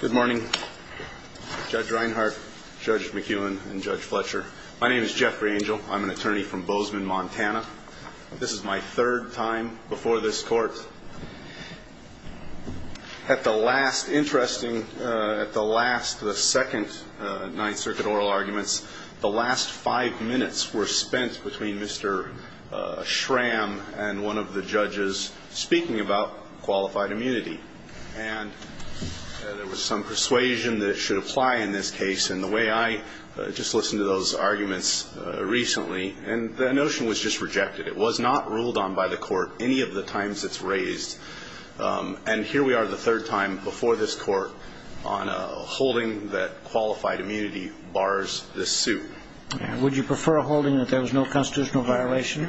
Good morning, Judge Reinhart, Judge McEwen, and Judge Fletcher. My name is Jeffrey D'Angelo. I'm an attorney from Bozeman, Montana. This is my third time before this court. At the last, interesting, at the last, the second Ninth Circuit oral arguments, the last five minutes were spent between Mr. Schramm and one of the judges speaking about qualified immunity. And there was some persuasion that it should apply in this case. And the way I just listened to those arguments recently, and the notion was just rejected. It was not ruled on by the court any of the times it's raised. And here we are the third time before this court on a holding that qualified immunity bars this suit. Would you prefer a holding that there was no constitutional violation?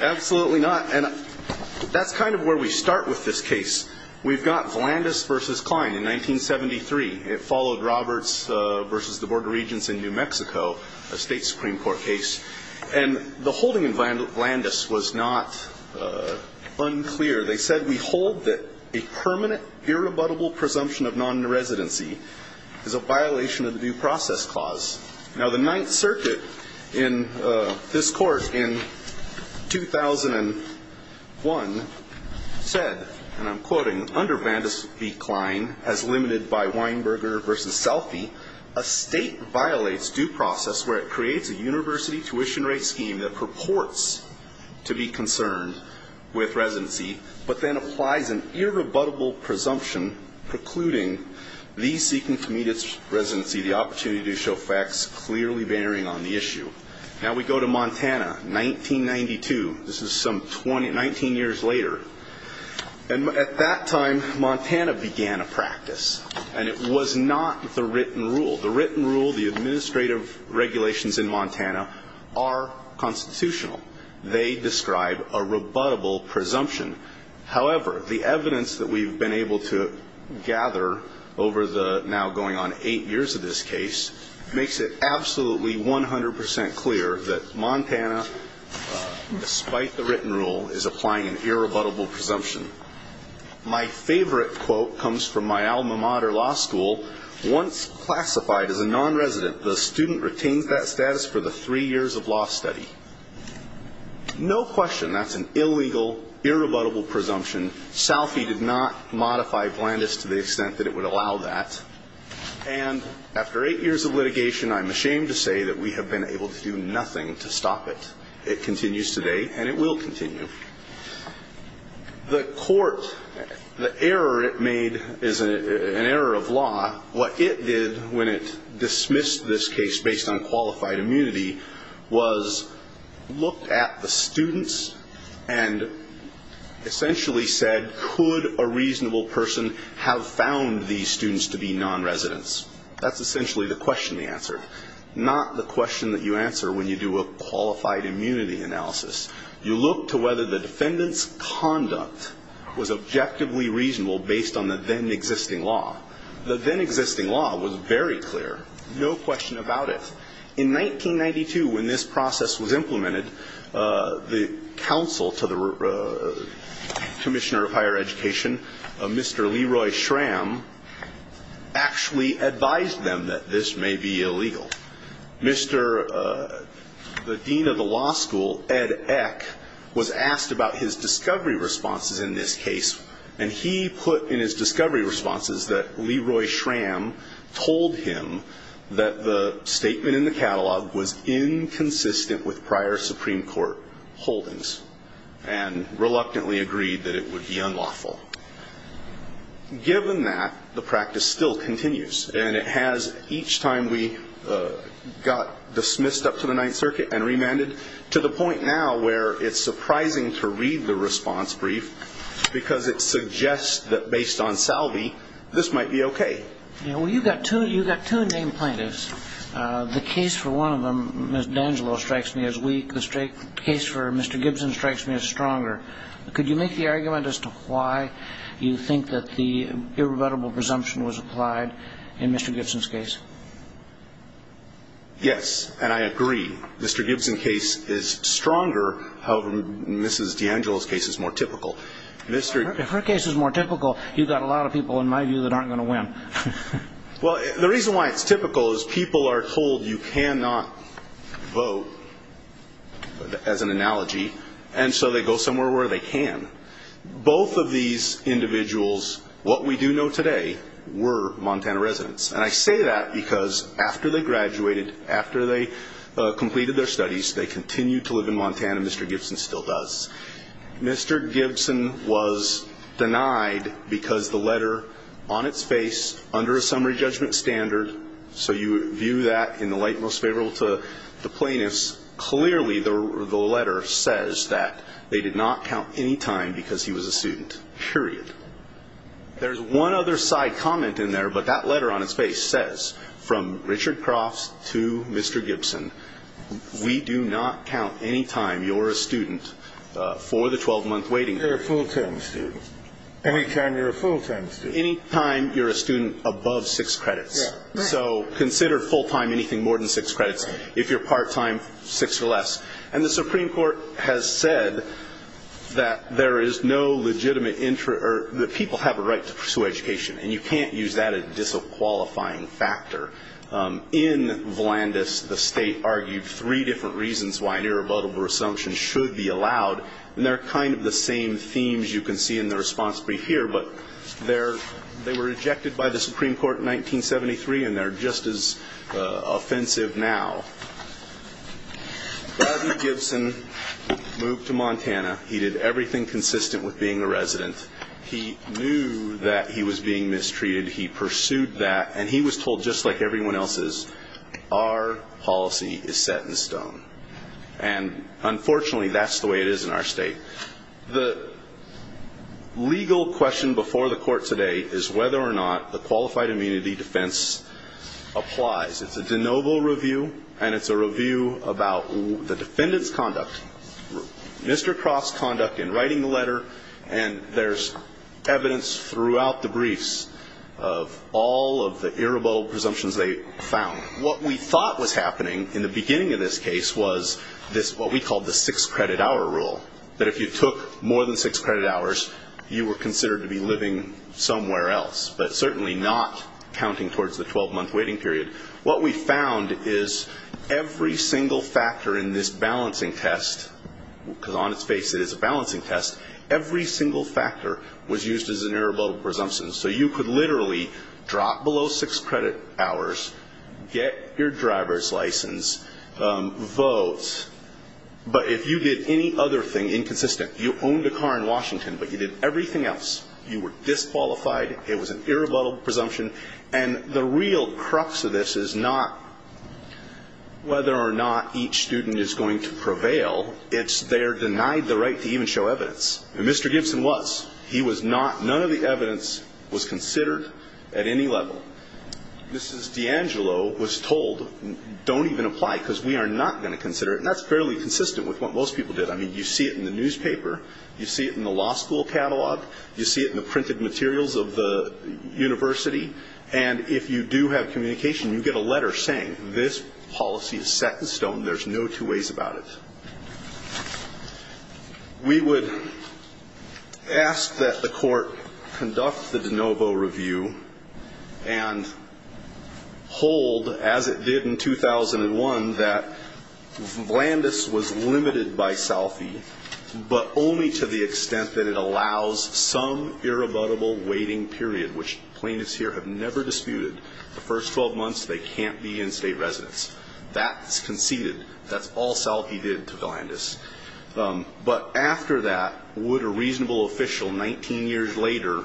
Absolutely not. And that's kind of where we start with this case. We've got Vlandis v. Kline in 1973. It followed Roberts v. the Board of Regents in New Mexico, a State Supreme Court case. And the holding in Vlandis was not unclear. They said, we hold that a permanent, irrebuttable presumption of non-residency is a violation of the due process clause. Now, the Ninth Circuit, in the case of Vlandis v. Kline, has said that the court in 2001 said, and I'm quoting, under Vlandis v. Kline, as limited by Weinberger v. Selfie, a State violates due process where it creates a university tuition rate scheme that purports to be concerned with residency, but then applies an irrebuttable presumption precluding these seeking to meet its residency the opportunity to show facts clearly bearing on the issue. Now, we go to Montana, 1992. This is some 19 years later. And at that time, Montana began a practice. And it was not the written rule. The written rule, the administrative regulations in Montana are constitutional. They describe a rebuttable presumption. However, the evidence that we've been able to gather over the now going on eight years of this case makes it absolutely 100 percent clear that Montana, despite the written rule, is applying an irrebuttable presumption. My favorite quote comes from my alma mater law school. Once classified as a non-resident, the student retains that status for the three years of law study. No question that's an illegal, irrebuttable presumption. Selfie did not modify Vlandis to the extent that it would allow that. And after eight years of litigation, I'm ashamed to say that we have been able to do nothing to stop it. It continues today, and it will continue. The court, the error it made is an error of law. What it did when it dismissed this case based on qualified immunity was looked at the students and essentially said, could a reasonable person have found these students to be non-residents? That's essentially the question they answered. Not the question that you answer when you do a qualified immunity analysis. You look to whether the defendant's conduct was objectively reasonable based on the then existing law. The then existing law was very clear. No question about it. In 1992, when this process was implemented, the counsel to the defendant, Mr. Leroy Schramm, actually advised them that this may be illegal. Mr. the dean of the law school, Ed Eck, was asked about his discovery responses in this case, and he put in his discovery responses that Leroy Schramm told him that the statement in the catalog was inconsistent with prior Supreme Court holdings and reluctantly agreed that it would be unlawful. Given that, the practice still continues, and it has each time we got dismissed up to the Ninth Circuit and remanded to the point now where it's surprising to read the response brief because it suggests that based on salvie, this might be okay. Well, you've got two named plaintiffs. The case for one of them, Ms. D'Angelo strikes me as weak. The case for Mr. Gibson strikes me as stronger. Could you make the argument as to why you think that the irrebuttable presumption was applied in Mr. Gibson's case? Yes, and I agree. Mr. Gibson's case is stronger. However, Ms. D'Angelo's case is more typical. If her case is more typical, you've got a lot of people, in my view, that aren't going to win. Well, the reason why it's typical is people are told you cannot vote, as an analogy, and so they go somewhere where they can. Both of these individuals, what we do know today, were Montana residents. And I say that because after they graduated, after they completed their studies, they continued to live in Montana, Mr. Gibson still does. Mr. Gibson was denied because the letter on its face, under a summary judgment standard, so you view that in the light most favorable to the plaintiffs, clearly the letter says that they did not count any time because he was a student, period. There's one other side comment in there, but that letter on its face says, from Richard Crofts to Mr. Gibson, we do not count any time you're a student for the 12-month waiting period. You're a full-time student. Any time you're a full-time student. Any time you're a student above six credits. So consider full-time anything more than six credits. If you're part-time, six or less. And the Supreme Court has said that there is no legitimate interest, or that people have a right to pursue education, and you can't use that as a disqualifying factor. In Vlandis, the state argued three different reasons why an irrevocable resumption should be allowed, and they're kind of the same themes you can see in the response brief here, but they were rejected by the Supreme Court in 1973, and they're just as offensive now. Bobby Gibson moved to Montana. He did everything consistent with being a resident. He knew that he was being mistreated. He pursued that. And he was told, just like everyone else is, our policy is set in stone. And unfortunately, that's the way it is in our state. The legal question before the court today is whether or not the qualified immunity defense applies. It's a de novo review, and it's a review about the defendant's conduct, Mr. Croft's conduct in writing the letter, and there's evidence throughout the briefs of all of the irrevocable presumptions they found. What we thought was happening in the beginning of this case was what we called the six-credit-hour rule, that if you took more than six credit hours, you were considered to be living somewhere else, but certainly not counting towards the 12-month waiting period. What we found is every single factor in this balancing test, because on its face it is a balancing test, every single factor was used as an irrevocable presumption. So you could literally drop below six credit hours, get your driver's license, vote, but if you did any other thing inconsistent, you owned a car in Washington, but you did everything else, you were disqualified, it was an irrevocable presumption. And the real crux of this is not whether or not each student is going to prevail, it's they're denied the right to even show evidence. And Mr. Gibson was, he was not, none of the evidence was considered at any level. Mrs. D'Angelo was told don't even apply, because we are not going to consider it, and that's fairly consistent with what most people did. I mean, you see it in the newspaper, you see it in the law school catalog, you see it in the printed materials of the university, and if you do have communication, you get a letter saying this policy is set in stone, there's no two ways about it. We would ask that the court conduct the de novo review and hold, as it did in 2001, that Vlandis was limited by Salfi, but only to the extent that it allows some irrebuttable waiting period, which plaintiffs here have never disputed. The first 12 months, they can't be in state residence. That's conceded, that's all Salfi did to Vlandis. But after that, would a reasonable official 19 years later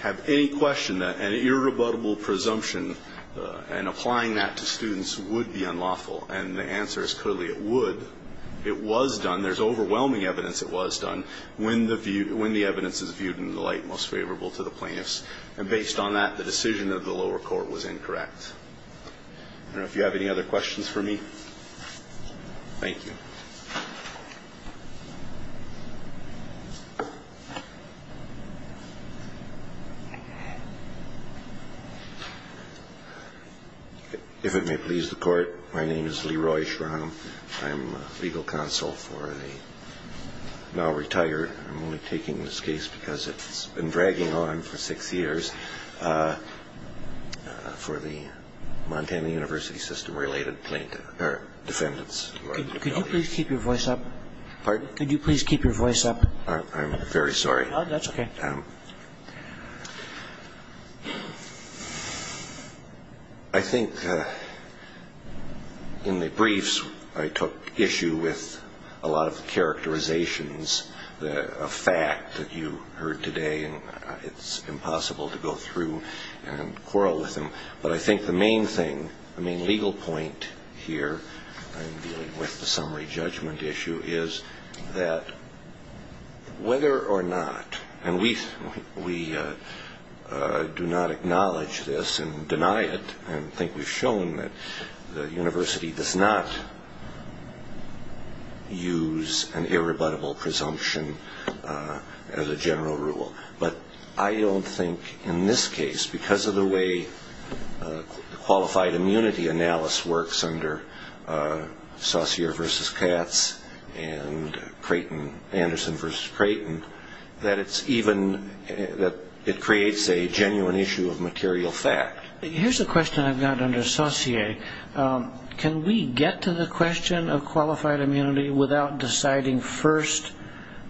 have any question that an irrebuttable presumption and applying that to students would be unlawful? And the answer is clearly it would. It was done, there's overwhelming evidence it was done, when the view, when the evidence is viewed in the light most favorable to the plaintiffs. And based on that, the decision of the lower court was incorrect. I don't know if you have any other questions for me. Thank you. If it may please the court, my name is Leroy Schramm, I'm legal counsel for the now retired, I'm only taking this case because it's been dragging on for six years, for the Montana University System related plaintiff, or defendants. Could you please keep your voice up? Pardon? Could you please keep your voice up? I'm very sorry. No, that's okay. I think in the briefs, I took issue with a lot of the characterizations that a fact that you heard today, and it's impossible to go through and quarrel with them. But I think the main thing, the main legal point here, with the summary judgment issue, is that whether or not, and we do not acknowledge this and deny it, and I think we've shown that the university does not use an irrebuttable presumption as a general rule, but I don't think in this case, because of the way the qualified immunity analysis works under Saussure versus Katz, and Anderson versus Creighton, that it creates a genuine issue of material fact. Here's a question I've got under Saussure. Can we get to the question of qualified immunity without deciding first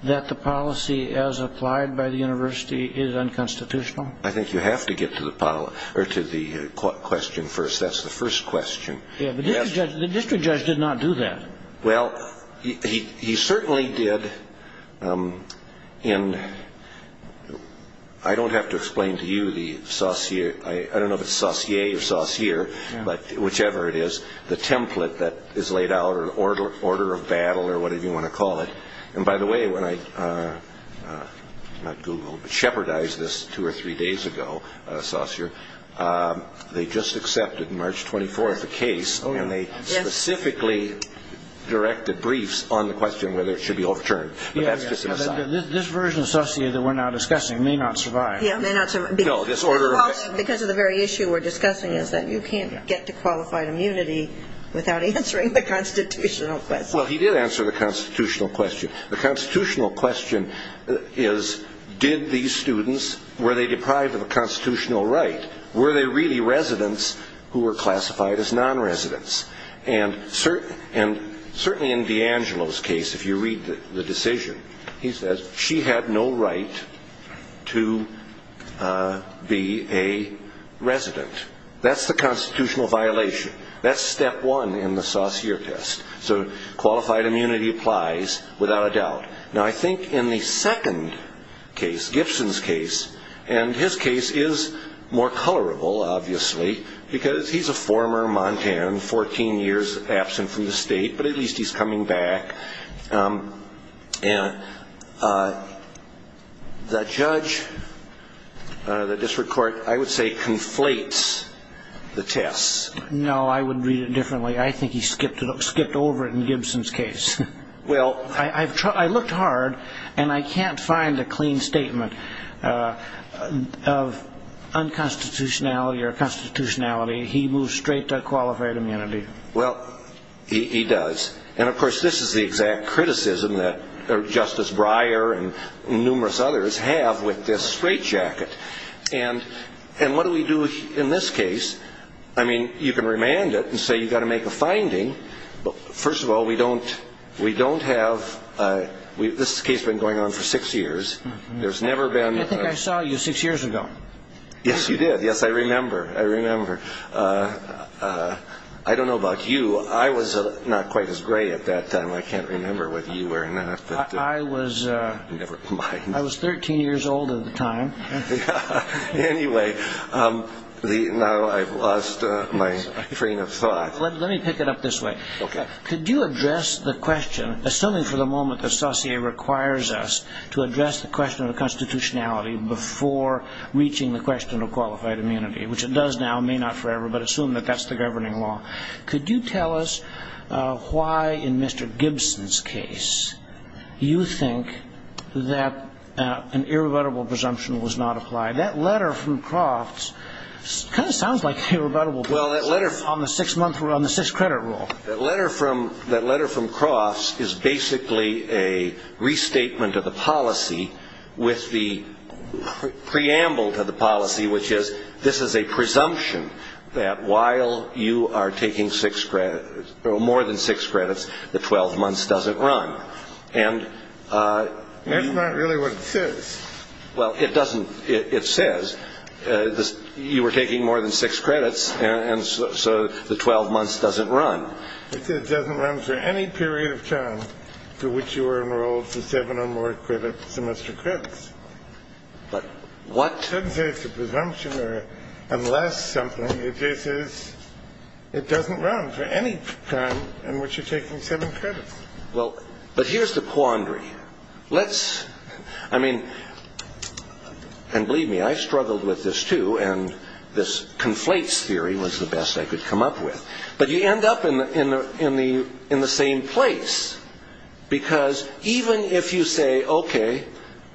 that the policy as applied by the university is unconstitutional? I think you have to get to the question first. That's the first question. Yeah, but the district judge did not do that. Well, he certainly did, and I don't have to explain to you the Saussure, I don't know if it's Saussier or Saussure, but whichever it is, the template that is laid out or the order of battle or whatever you want to call it. And by the way, when I, not Googled, but shepherdized this two or three days ago, Saussure, they just accepted on March 24th the case, and they specifically directed briefs on the question whether it should be overturned. But that's just an aside. This version of Saussure that we're now discussing may not survive. Because of the very issue we're discussing is that you can't get to qualified immunity without answering the constitutional question. Well, he did answer the constitutional question. The constitutional question is did these students, were they deprived of a constitutional right? Were they really residents who were classified as non-residents? And certainly in D'Angelo's case, if you read the decision, he says she had no right to be a resident. That's the constitutional violation. That's step one in the Saussure test. So qualified immunity applies without a doubt. Now, I think in the second case, Gibson's case, and his case is more colorable, obviously, because he's a former Montan, 14 years absent from the state, but at least he's coming back. And the judge, the district court, I would say conflates the tests. No, I would read it differently. I think he skipped over it in Gibson's case. I looked hard, and I can't find a clean statement of unconstitutionality or constitutionality. He moves straight to qualified immunity. Well, he does. And, of course, this is the exact criticism that Justice Breyer and numerous others have with this straitjacket. And what do we do in this case? I mean, you can remand it and say you've got to make a finding. But, first of all, we don't have – this case has been going on for six years. There's never been – I think I saw you six years ago. Yes, you did. Yes, I remember. I remember. I don't know about you. I was not quite as gray at that time. I can't remember whether you were or not. I was 13 years old at the time. Anyway, now I've lost my train of thought. Let me pick it up this way. Could you address the question, assuming for the moment that Saussure requires us to address the question of constitutionality before reaching the question of qualified immunity, which it does now, may not forever, but assume that that's the governing law. Could you tell us why, in Mr. Gibson's case, you think that an irrebuttable presumption was not applied? That letter from Crofts kind of sounds like an irrebuttable presumption on the six-credit rule. That letter from Crofts is basically a restatement of the policy with the preamble to the policy, which is this is a presumption that while you are taking six credits or more than six credits, the 12 months doesn't run. And that's not really what it says. Well, it doesn't. It says you were taking more than six credits, and so the 12 months doesn't run. It doesn't run for any period of time to which you were enrolled for seven or more semester credits. But what? It doesn't say it's a presumption or unless something. It just says it doesn't run for any time in which you're taking seven credits. Well, but here's the quandary. Let's, I mean, and believe me, I struggled with this, too, and this conflates theory was the best I could come up with. But you end up in the same place because even if you say, okay,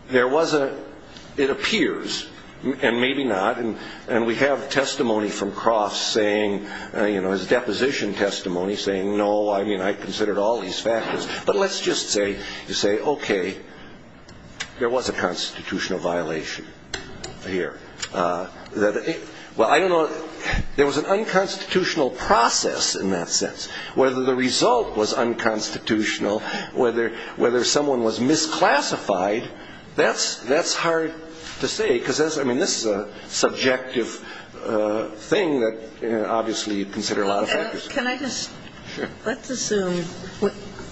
there was a, it appears, and maybe not, and we have testimony from Crofts saying, you know, his deposition testimony saying, no, I mean, I considered all these factors, but let's just say you say, okay, there was a constitutional violation here. Well, I don't know, there was an unconstitutional process in that sense. Whether the result was unconstitutional, whether someone was misclassified, that's hard to say because, I mean, this is a subjective thing that obviously you'd consider a lot of factors. Can I just, let's assume,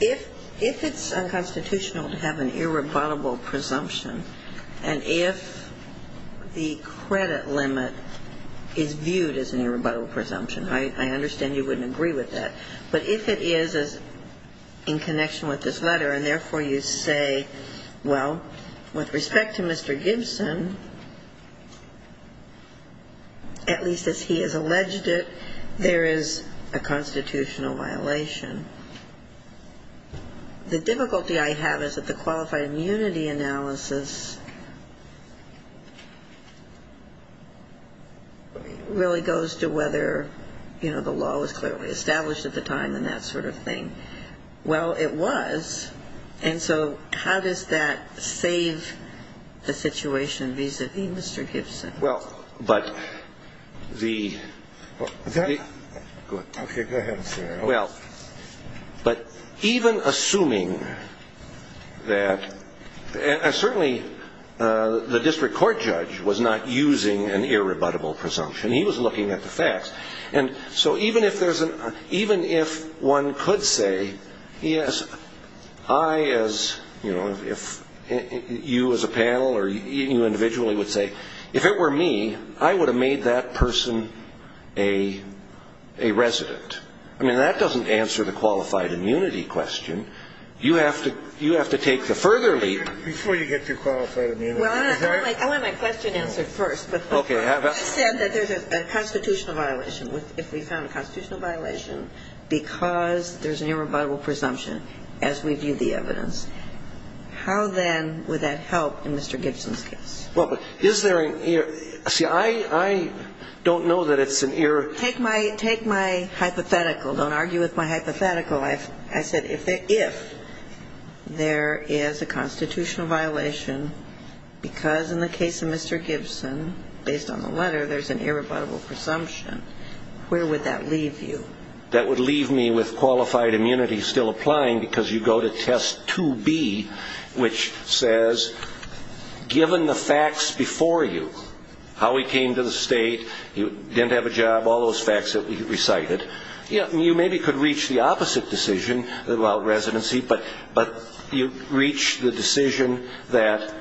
if it's unconstitutional to have an irrebuttable presumption and if the credit limit is viewed as an irrebuttable presumption, I understand you wouldn't agree with that, but if it is in connection with this letter and, therefore, you say, well, with respect to Mr. Gibson, at least as he has alleged it, there is a constitutional violation, the difficulty I have is that the qualified immunity analysis really goes to whether, you know, the law was clearly established at the time and that sort of thing. Well, it was, and so how does that save the situation vis-a-vis Mr. Gibson? Well, but even assuming that, and certainly the district court judge was not using an irrebuttable presumption, he was looking at the facts, and so even if one could say, yes, I as, you know, you as a panel or you individually would say, if it were me, I would have made that person a resident. I mean, that doesn't answer the qualified immunity question. You have to take the further leap. Before you get to qualified immunity. Well, I want my question answered first. Okay. I said that there's a constitutional violation. If we found a constitutional violation because there's an irrebuttable presumption as we view the evidence, how then would that help in Mr. Gibson's case? Well, but is there an error? See, I don't know that it's an error. Take my hypothetical. Don't argue with my hypothetical. I said if there is a constitutional violation because in the case of Mr. Gibson, based on the letter, there's an irrebuttable presumption, where would that leave you? That would leave me with qualified immunity still applying because you go to test 2B, which says given the facts before you, how he came to the state, he didn't have a job, all those facts that we recited. You maybe could reach the opposite decision about residency, but you reach the decision that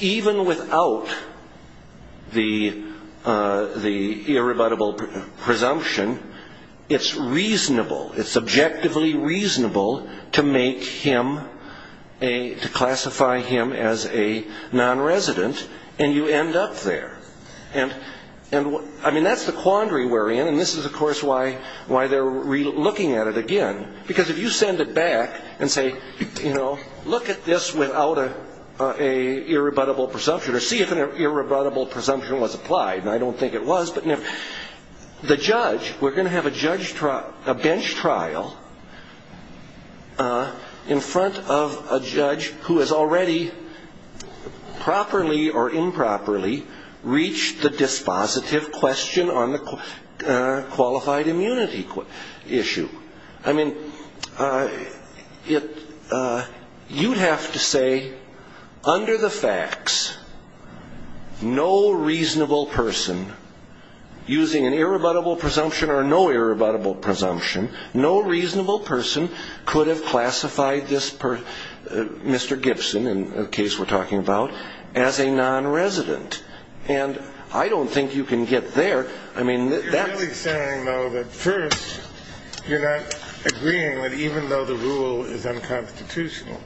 even without the irrebuttable presumption, it's reasonable. It's objectively reasonable to make him, to classify him as a nonresident, and you end up there. I mean, that's the quandary we're in, and this is, of course, why they're looking at it again. Because if you send it back and say, you know, look at this without an irrebuttable presumption or see if an irrebuttable presumption was applied, and I don't think it was, but the judge, we're going to have a bench trial in front of a judge who has already properly or improperly reached the dispositive question on the qualified immunity issue. I mean, you'd have to say, under the facts, no reasonable person, using an irrebuttable presumption or no irrebuttable presumption, no reasonable person could have classified Mr. Gibson, in the case we're talking about, as a nonresident. And I don't think you can get there. You're really saying, though, that first, you're not agreeing that even though the rule is unconstitutional,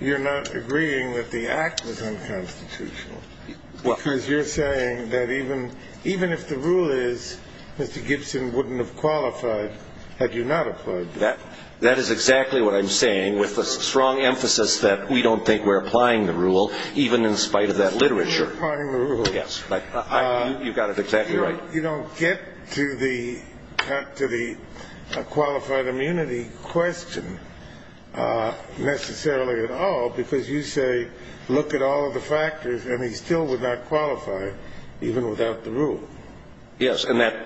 you're not agreeing that the act was unconstitutional, because you're saying that even if the rule is Mr. Gibson wouldn't have qualified had you not applied the rule. That is exactly what I'm saying, with a strong emphasis that we don't think we're applying the rule, even in spite of that literature. You're applying the rule. Yes. You've got it exactly right. You don't get to the qualified immunity question necessarily at all, because you say, look at all of the factors, and he still would not qualify, even without the rule. Yes, and that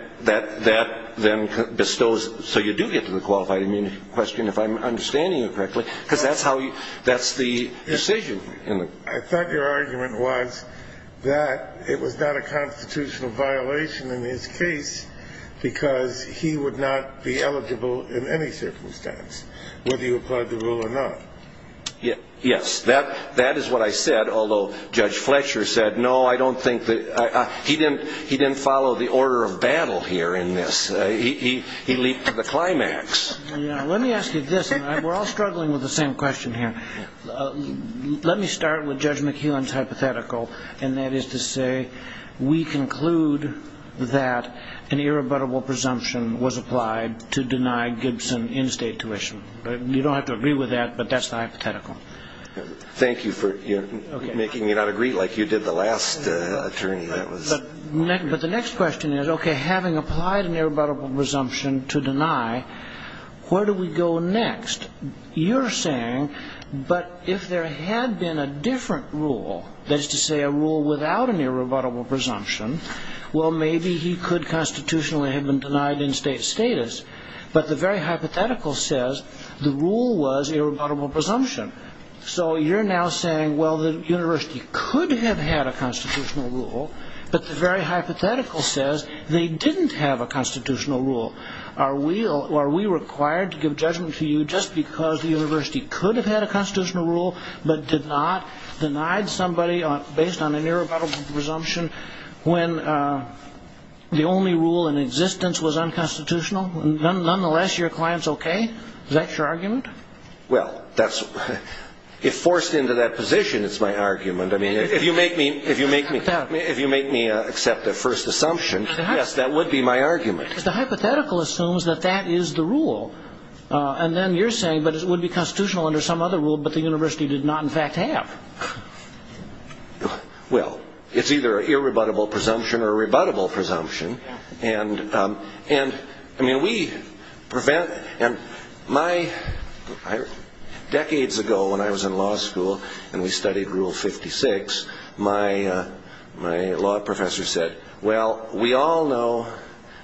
then bestows. So you do get to the qualified immunity question, if I'm understanding you correctly, because that's the decision. I thought your argument was that it was not a constitutional violation in his case because he would not be eligible in any circumstance, whether you applied the rule or not. Yes. That is what I said, although Judge Fletcher said, no, I don't think that. He didn't follow the order of battle here in this. He leaped to the climax. Let me ask you this, and we're all struggling with the same question here. Let me start with Judge McKeown's hypothetical, and that is to say we conclude that an irrebuttable presumption was applied to deny Gibson in-state tuition. You don't have to agree with that, but that's the hypothetical. Thank you for making me not agree like you did the last attorney. But the next question is, okay, having applied an irrebuttable presumption to deny, where do we go next? You're saying, but if there had been a different rule, that is to say a rule without an irrebuttable presumption, well, maybe he could constitutionally have been denied in-state status, but the very hypothetical says the rule was irrebuttable presumption. So you're now saying, well, the university could have had a constitutional rule, but the very hypothetical says they didn't have a constitutional rule. Are we required to give judgment to you just because the university could have had a constitutional rule but did not, denied somebody based on an irrebuttable presumption when the only rule in existence was unconstitutional? Nonetheless, your client's okay? Is that your argument? Well, if forced into that position, it's my argument. I mean, if you make me accept the first assumption, yes, that would be my argument. But the hypothetical assumes that that is the rule. And then you're saying, but it would be constitutional under some other rule, but the university did not, in fact, have. Well, it's either an irrebuttable presumption or a rebuttable presumption. And, I mean, we prevent, and my, decades ago when I was in law school and we studied Rule 56, my law professor said, well, we all know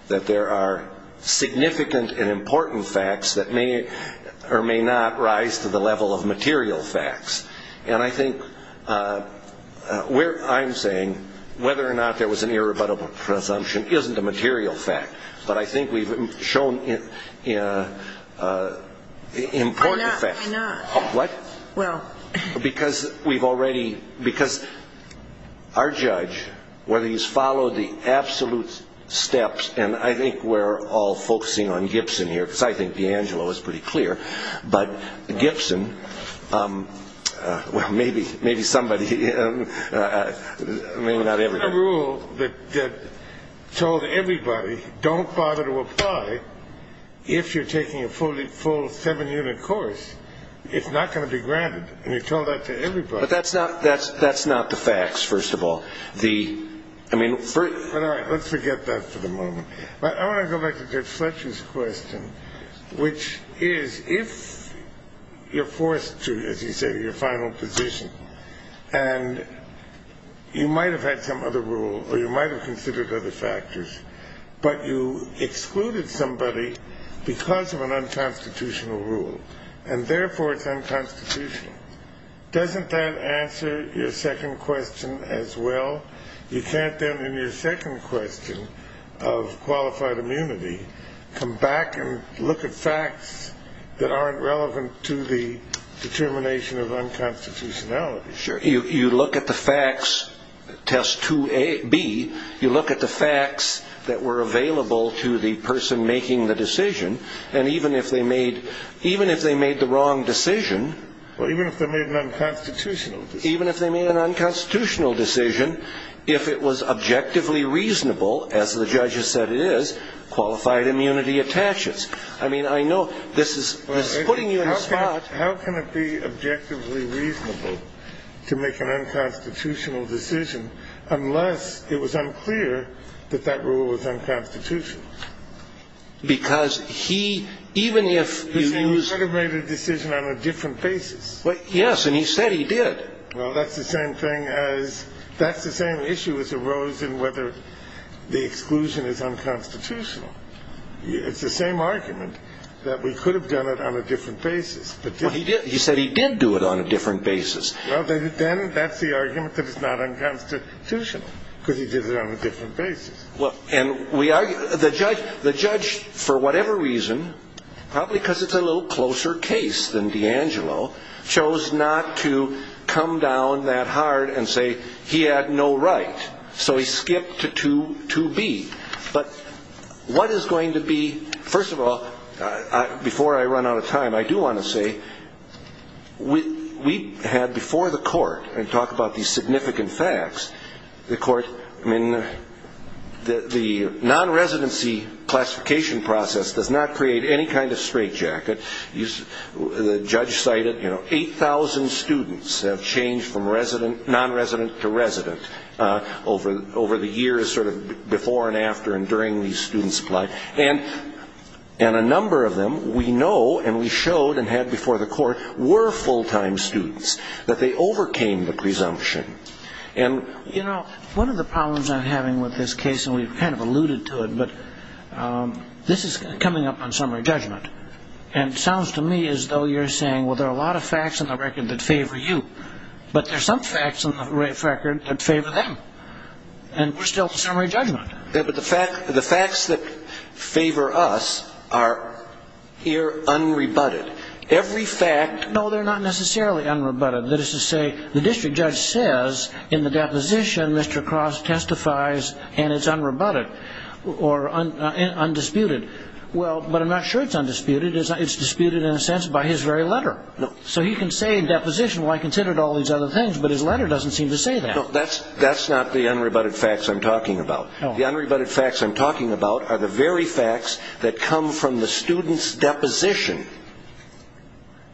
that there are significant and important facts that may or may not rise to the level of material facts. And I think where I'm saying whether or not there was an irrebuttable presumption isn't a material fact, but I think we've shown important facts. Why not? What? Well. Because we've already, because our judge, whether he's followed the absolute steps, and I think we're all focusing on Gibson here, because I think D'Angelo is pretty clear, but Gibson, well, maybe somebody, I mean, not everybody. But there's a rule that told everybody, don't bother to apply if you're taking a full seven-unit course. It's not going to be granted. And you told that to everybody. But that's not the facts, first of all. But, all right, let's forget that for the moment. I want to go back to Judge Fletcher's question, which is if you're forced to, as you say, to your final position, and you might have had some other rule or you might have considered other factors, but you excluded somebody because of an unconstitutional rule, and therefore it's unconstitutional, doesn't that answer your second question as well? You can't then, in your second question of qualified immunity, come back and look at facts that aren't relevant to the determination of unconstitutionality. Sure. You look at the facts, test 2B, you look at the facts that were available to the person making the decision, and even if they made the wrong decision. Well, even if they made an unconstitutional decision. Even if they made an unconstitutional decision, if it was objectively reasonable, as the judge has said it is, qualified immunity attaches. I mean, I know this is putting you in a spot. Well, how can it be objectively reasonable to make an unconstitutional decision unless it was unclear that that rule was unconstitutional? Because he, even if he used. He could have made a decision on a different basis. Yes, and he said he did. Well, that's the same thing as... That's the same issue as arose in whether the exclusion is unconstitutional. It's the same argument that we could have done it on a different basis. He said he did do it on a different basis. Well, then that's the argument that it's not unconstitutional because he did it on a different basis. The judge, for whatever reason, probably because it's a little closer case than D'Angelo, chose not to come down that hard and say he had no right. So he skipped to 2B. But what is going to be... First of all, before I run out of time, I do want to say we had before the court, and talk about these significant facts, the court... I mean, the non-residency classification process does not create any kind of straitjacket. The judge cited 8,000 students have changed from non-resident to resident over the years, sort of before and after and during the student supply. And a number of them we know and we showed and had before the court were full-time students, that they overcame the presumption. You know, one of the problems I'm having with this case, and we've kind of alluded to it, but this is coming up on summary judgment. And it sounds to me as though you're saying, well, there are a lot of facts in the record that favor you, but there are some facts in the record that favor them, and we're still in summary judgment. Yeah, but the facts that favor us are here unrebutted. No, they're not necessarily unrebutted. That is to say, the district judge says in the deposition Mr. Cross testifies and it's unrebutted or undisputed. Well, but I'm not sure it's undisputed. It's disputed in a sense by his very letter. So he can say in deposition, well, I considered all these other things, but his letter doesn't seem to say that. No, that's not the unrebutted facts I'm talking about. The unrebutted facts I'm talking about are the very facts that come from the student's deposition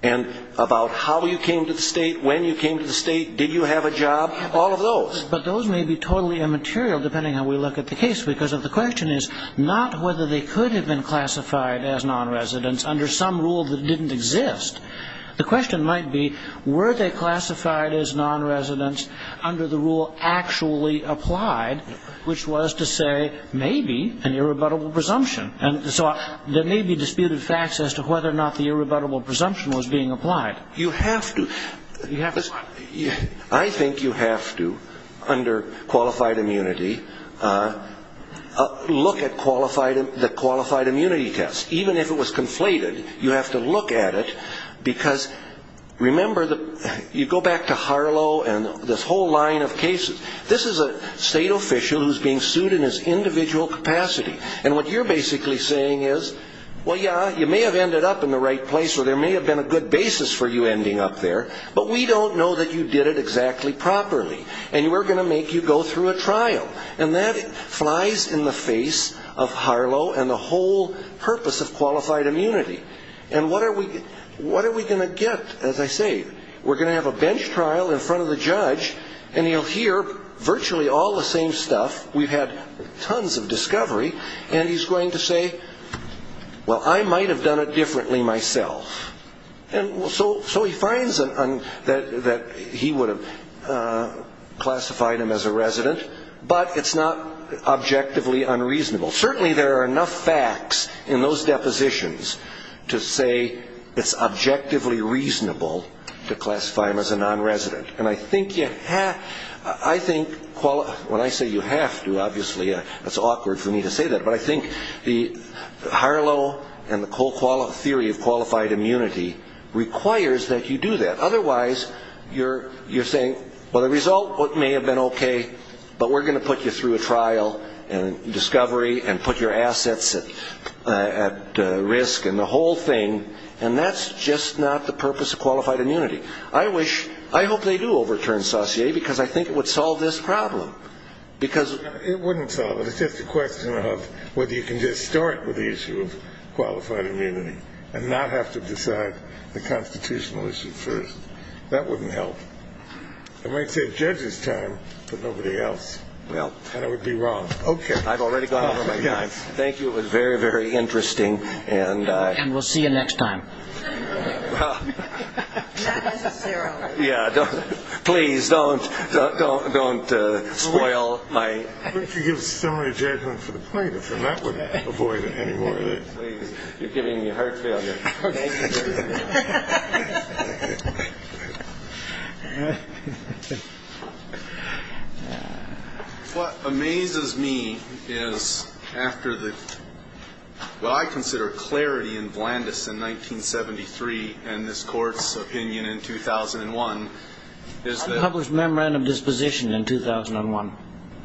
and about how you came to the state, when you came to the state, did you have a job, all of those. But those may be totally immaterial, depending on how we look at the case, because the question is not whether they could have been classified as nonresidents under some rule that didn't exist. The question might be, were they classified as nonresidents under the rule actually applied, which was to say maybe an irrebuttable presumption. And so there may be disputed facts as to whether or not the irrebuttable presumption was being applied. You have to. I think you have to, under qualified immunity, look at the qualified immunity test. Even if it was conflated, you have to look at it, because remember, you go back to Harlow and this whole line of cases. This is a state official who's being sued in his individual capacity. And what you're basically saying is, well, yeah, you may have ended up in the right place, or there may have been a good basis for you ending up there, but we don't know that you did it exactly properly. And we're going to make you go through a trial. And that flies in the face of Harlow and the whole purpose of qualified immunity. And what are we going to get, as I say? We're going to have a bench trial in front of the judge, and he'll hear virtually all the same stuff. We've had tons of discovery. And he's going to say, well, I might have done it differently myself. And so he finds that he would have classified him as a resident, but it's not objectively unreasonable. Well, certainly there are enough facts in those depositions to say it's objectively reasonable to classify him as a nonresident. And I think when I say you have to, obviously, it's awkward for me to say that, but I think Harlow and the whole theory of qualified immunity requires that you do that. Otherwise, you're saying, well, the result may have been okay, but we're going to put you through a trial and discovery and put your assets at risk and the whole thing, and that's just not the purpose of qualified immunity. I hope they do overturn Saussure, because I think it would solve this problem. It wouldn't solve it. It's just a question of whether you can just start with the issue of qualified immunity and not have to decide the constitutional issue first. That wouldn't help. I might say it's judges' time, but nobody else. And I would be wrong. Okay. I've already gone over my time. Thank you. It was very, very interesting. And we'll see you next time. Not necessarily. Yeah. Please, don't spoil my. But if you give somebody a judgment for the plaintiff, then that would avoid any more of it. You're giving me heart failure. What amazes me is after the, what I consider clarity in Vlandis in 1973 and this Court's opinion in 2001 is that. Unpublished memorandum disposition in 2001.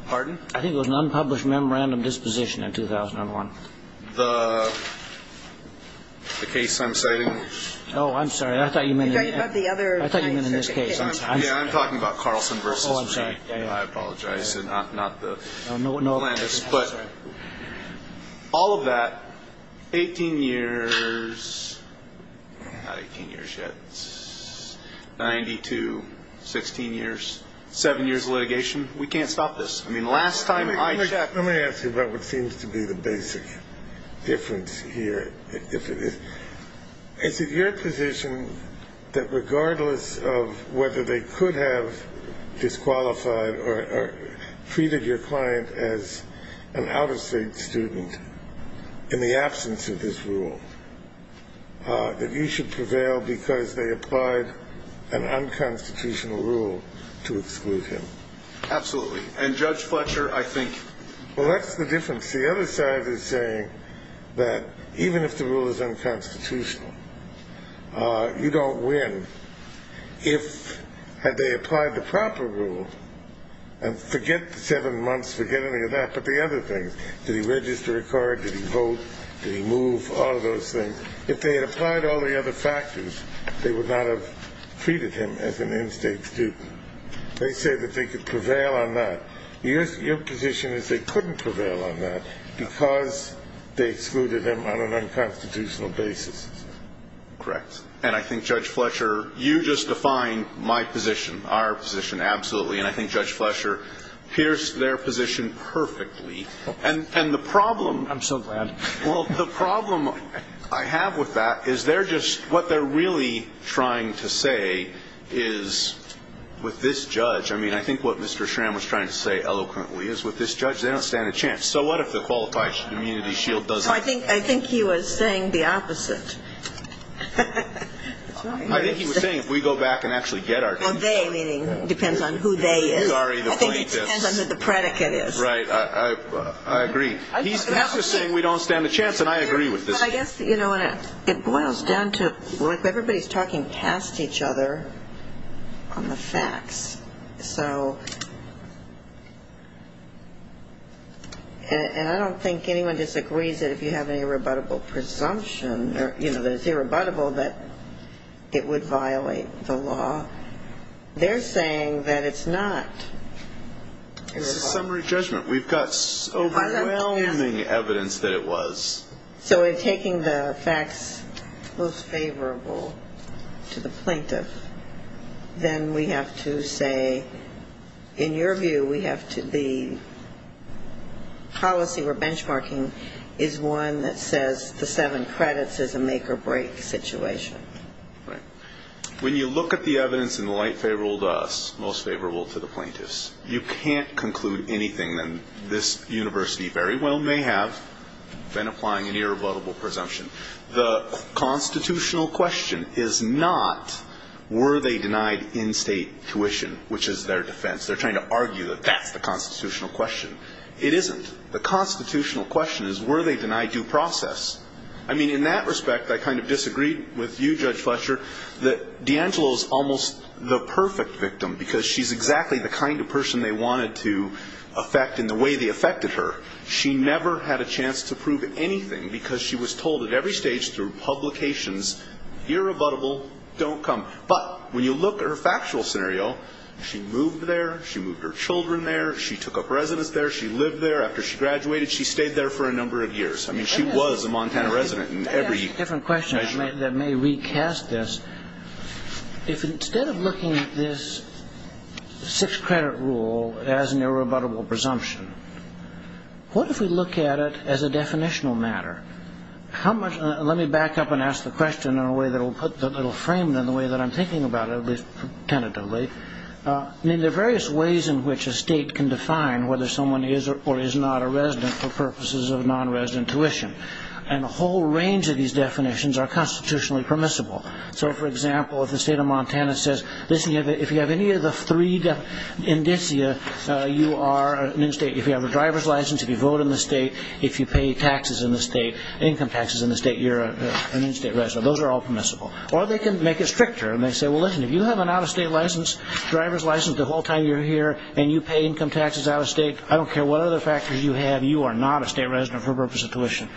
Pardon? I think it was an unpublished memorandum disposition in 2001. The case I'm citing. Oh, I'm sorry. I thought you meant in this case. Yeah, I'm talking about Carlson v. Reed. I apologize. Not the plaintiffs. But all of that, 18 years, not 18 years yet, 92, 16 years, seven years of litigation. We can't stop this. I mean, last time I checked. Let me ask you about what seems to be the basic difference here. Is it your position that regardless of whether they could have disqualified or treated your client as an out-of-state student in the absence of this rule, that you should prevail because they applied an unconstitutional rule to exclude him? Absolutely. And Judge Fletcher, I think. Well, that's the difference. The other side is saying that even if the rule is unconstitutional, you don't win if, had they applied the proper rule, and forget the seven months, forget any of that, but the other things. Did he register a card? Did he vote? Did he move? All of those things. If they had applied all the other factors, they would not have treated him as an in-state student. They say that they could prevail on that. Your position is they couldn't prevail on that because they excluded him on an unconstitutional basis. Correct. And I think, Judge Fletcher, you just defined my position, our position absolutely, and I think Judge Fletcher pierced their position perfectly. And the problem. I'm so glad. Well, the problem I have with that is they're just what they're really trying to say is with this judge. I mean, I think what Mr. Schramm was trying to say eloquently is with this judge, they don't stand a chance. So what if the qualified immunity shield doesn't work? I think he was saying the opposite. I think he was saying if we go back and actually get our case. Well, they meaning depends on who they is. I think it depends on who the predicate is. Right. I agree. He's just saying we don't stand a chance, and I agree with this. But I guess, you know, it boils down to everybody's talking past each other on the facts. So and I don't think anyone disagrees that if you have an irrebuttable presumption, you know, that it's irrebuttable that it would violate the law. They're saying that it's not. It's a summary judgment. We've got overwhelming evidence that it was. So in taking the facts most favorable to the plaintiff, then we have to say, in your view, we have to be policy or benchmarking is one that says the seven credits is a make or break situation. Right. When you look at the evidence in the light favorable to us, most favorable to the plaintiffs, you can't conclude anything that this university very well may have been applying an irrebuttable presumption. The constitutional question is not were they denied in-state tuition, which is their defense. They're trying to argue that that's the constitutional question. It isn't. The constitutional question is were they denied due process. I mean, in that respect, I kind of disagree with you, Judge Fletcher, that DeAngelo is almost the perfect victim because she's exactly the kind of person they wanted to affect in the way they affected her. She never had a chance to prove anything because she was told at every stage through publications, irrebuttable, don't come. But when you look at her factual scenario, she moved there. She moved her children there. She took up residence there. She lived there. After she graduated, she stayed there for a number of years. I mean, she was a Montana resident in every measurement. I have a different question that may recast this. If instead of looking at this six-credit rule as an irrebuttable presumption, what if we look at it as a definitional matter? Let me back up and ask the question in a way that will frame it in the way that I'm thinking about it, at least tentatively. I mean, there are various ways in which a state can define whether someone is or is not a resident for purposes of non-resident tuition. And a whole range of these definitions are constitutionally permissible. So, for example, if the state of Montana says, listen, if you have any of the three indicia, you are an in-state. If you have a driver's license, if you vote in the state, if you pay taxes in the state, income taxes in the state, you're an in-state resident. Those are all permissible. Or they can make it stricter and they say, well, listen, if you have an out-of-state license, driver's license the whole time you're here and you pay income taxes out-of-state, I don't care what other factors you have, you are not a state resident for the purpose of tuition.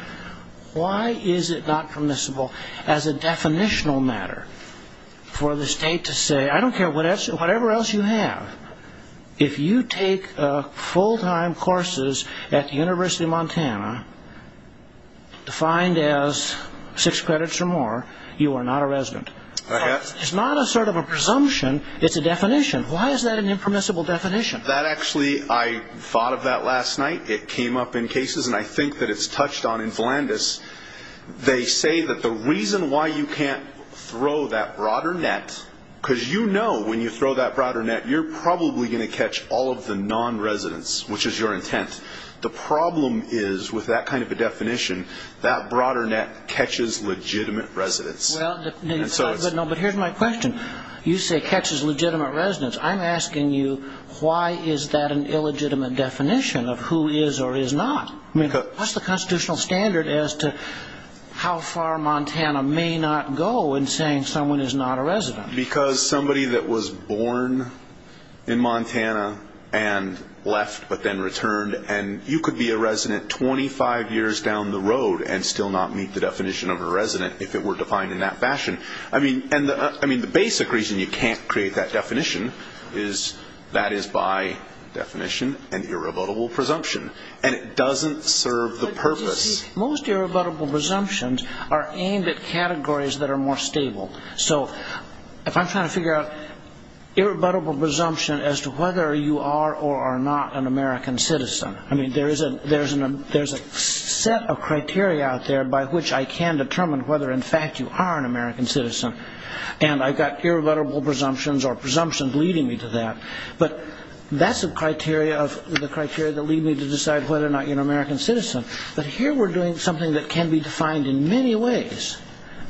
Why is it not permissible as a definitional matter for the state to say, I don't care whatever else you have, if you take full-time courses at the University of Montana, defined as six credits or more, you are not a resident. It's not a sort of a presumption. It's a definition. Why is that an impermissible definition? That actually, I thought of that last night. It came up in cases, and I think that it's touched on in Philandus. They say that the reason why you can't throw that broader net, because you know when you throw that broader net, you're probably going to catch all of the non-residents, which is your intent. The problem is, with that kind of a definition, that broader net catches legitimate residents. Well, but here's my question. You say catches legitimate residents. I'm asking you, why is that an illegitimate definition of who is or is not? I mean, what's the constitutional standard as to how far Montana may not go in saying someone is not a resident? Because somebody that was born in Montana and left but then returned, and you could be a resident 25 years down the road and still not meet the definition of a resident if it were defined in that fashion. I mean, the basic reason you can't create that definition is that is by definition an irrebuttable presumption, and it doesn't serve the purpose. But you see, most irrebuttable presumptions are aimed at categories that are more stable. So if I'm trying to figure out irrebuttable presumption as to whether you are or are not an American citizen, I mean, there's a set of criteria out there by which I can determine whether in fact you are an American citizen, and I've got irrebuttable presumptions or presumptions leading me to that. But that's the criteria that lead me to decide whether or not you're an American citizen. But here we're doing something that can be defined in many ways,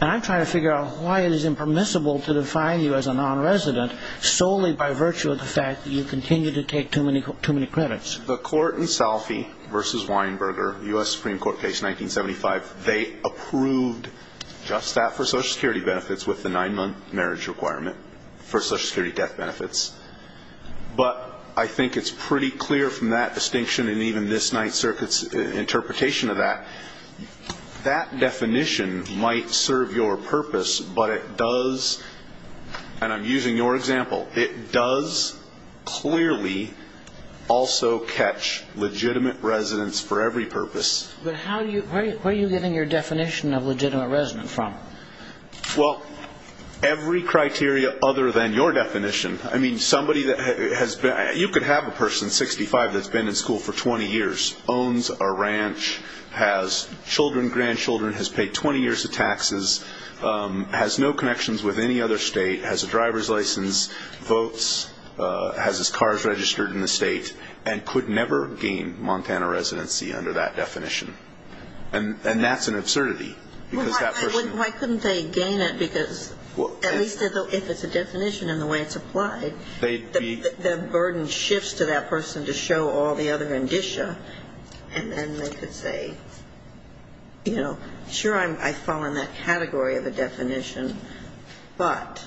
and I'm trying to figure out why it is impermissible to define you as a nonresident solely by virtue of the fact that you continue to take too many credits. In fact, the court in Salphy v. Weinberger, U.S. Supreme Court case 1975, they approved just that for Social Security benefits with the nine-month marriage requirement for Social Security death benefits. But I think it's pretty clear from that distinction and even this Ninth Circuit's interpretation of that, that definition might serve your purpose, but it does, and I'm using your example, it does clearly also catch legitimate residents for every purpose. But where are you getting your definition of legitimate resident from? Well, every criteria other than your definition. I mean, somebody that has been, you could have a person 65 that's been in school for 20 years, owns a ranch, has children, grandchildren, has paid 20 years of taxes, has no connections with any other state, has a driver's license, votes, has his cars registered in the state, and could never gain Montana residency under that definition. And that's an absurdity. Why couldn't they gain it because at least if it's a definition and the way it's applied, the burden shifts to that person to show all the other indicia, and then they could say, you know, sure, I fall in that category of a definition, but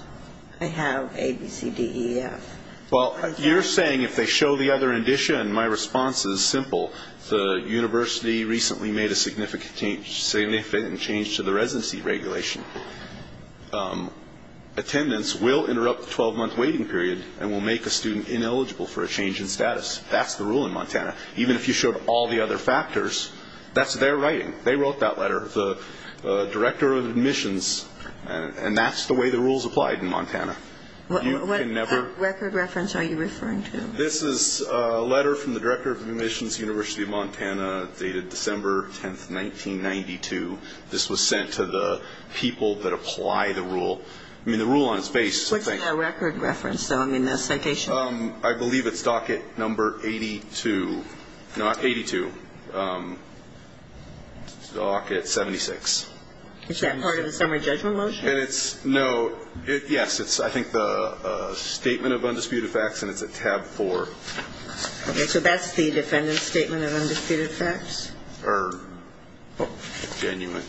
I have A, B, C, D, E, F. Well, you're saying if they show the other indicia, and my response is simple, the university recently made a significant change to the residency regulation. Attendance will interrupt the 12-month waiting period and will make a student ineligible for a change in status. That's the rule in Montana. Even if you showed all the other factors, that's their writing. They wrote that letter. The director of admissions, and that's the way the rule is applied in Montana. What record reference are you referring to? This is a letter from the director of admissions, University of Montana, dated December 10, 1992. This was sent to the people that apply the rule. I mean, the rule on its face, I think. What's in that record reference? I mean, the citation? I believe it's docket number 82, not 82, docket 76. Is that part of the summary judgment motion? No. Yes. It's, I think, the statement of undisputed facts, and it's at tab 4. Okay. So that's the defendant's statement of undisputed facts? Or genuine.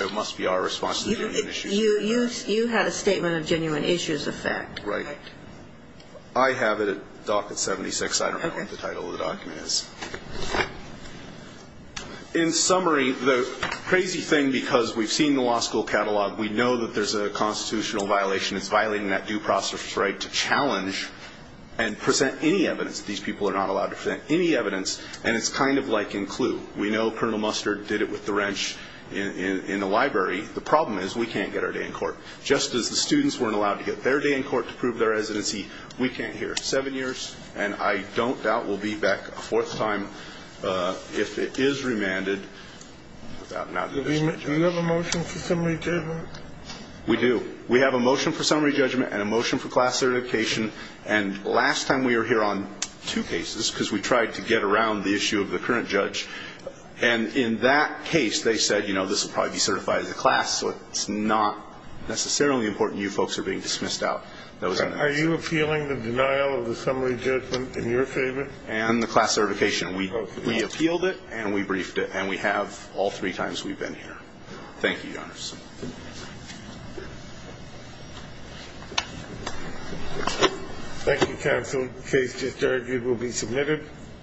It must be our response to genuine issues of fact. You had a statement of genuine issues of fact. Right. I have it at docket 76. I don't know what the title of the document is. In summary, the crazy thing, because we've seen the law school catalog, we know that there's a constitutional violation. It's violating that due process right to challenge and present any evidence. These people are not allowed to present any evidence, and it's kind of like in Clue. We know Colonel Mustard did it with the wrench in the library. The problem is we can't get our day in court. Just as the students weren't allowed to get their day in court to prove their residency, we can't here. Seven years, and I don't doubt we'll be back a fourth time if it is remanded. Do we have a motion for summary judgment? We do. We have a motion for summary judgment and a motion for class certification, and last time we were here on two cases because we tried to get around the issue of the current judge, and in that case they said, you know, this will probably be certified as a class, so it's not necessarily important you folks are being dismissed out. Are you appealing the denial of the summary judgment in your favor? And the class certification. We appealed it and we briefed it, and we have all three times we've been here. Thank you, Your Honor. Thank you, counsel. The case just argued will be submitted.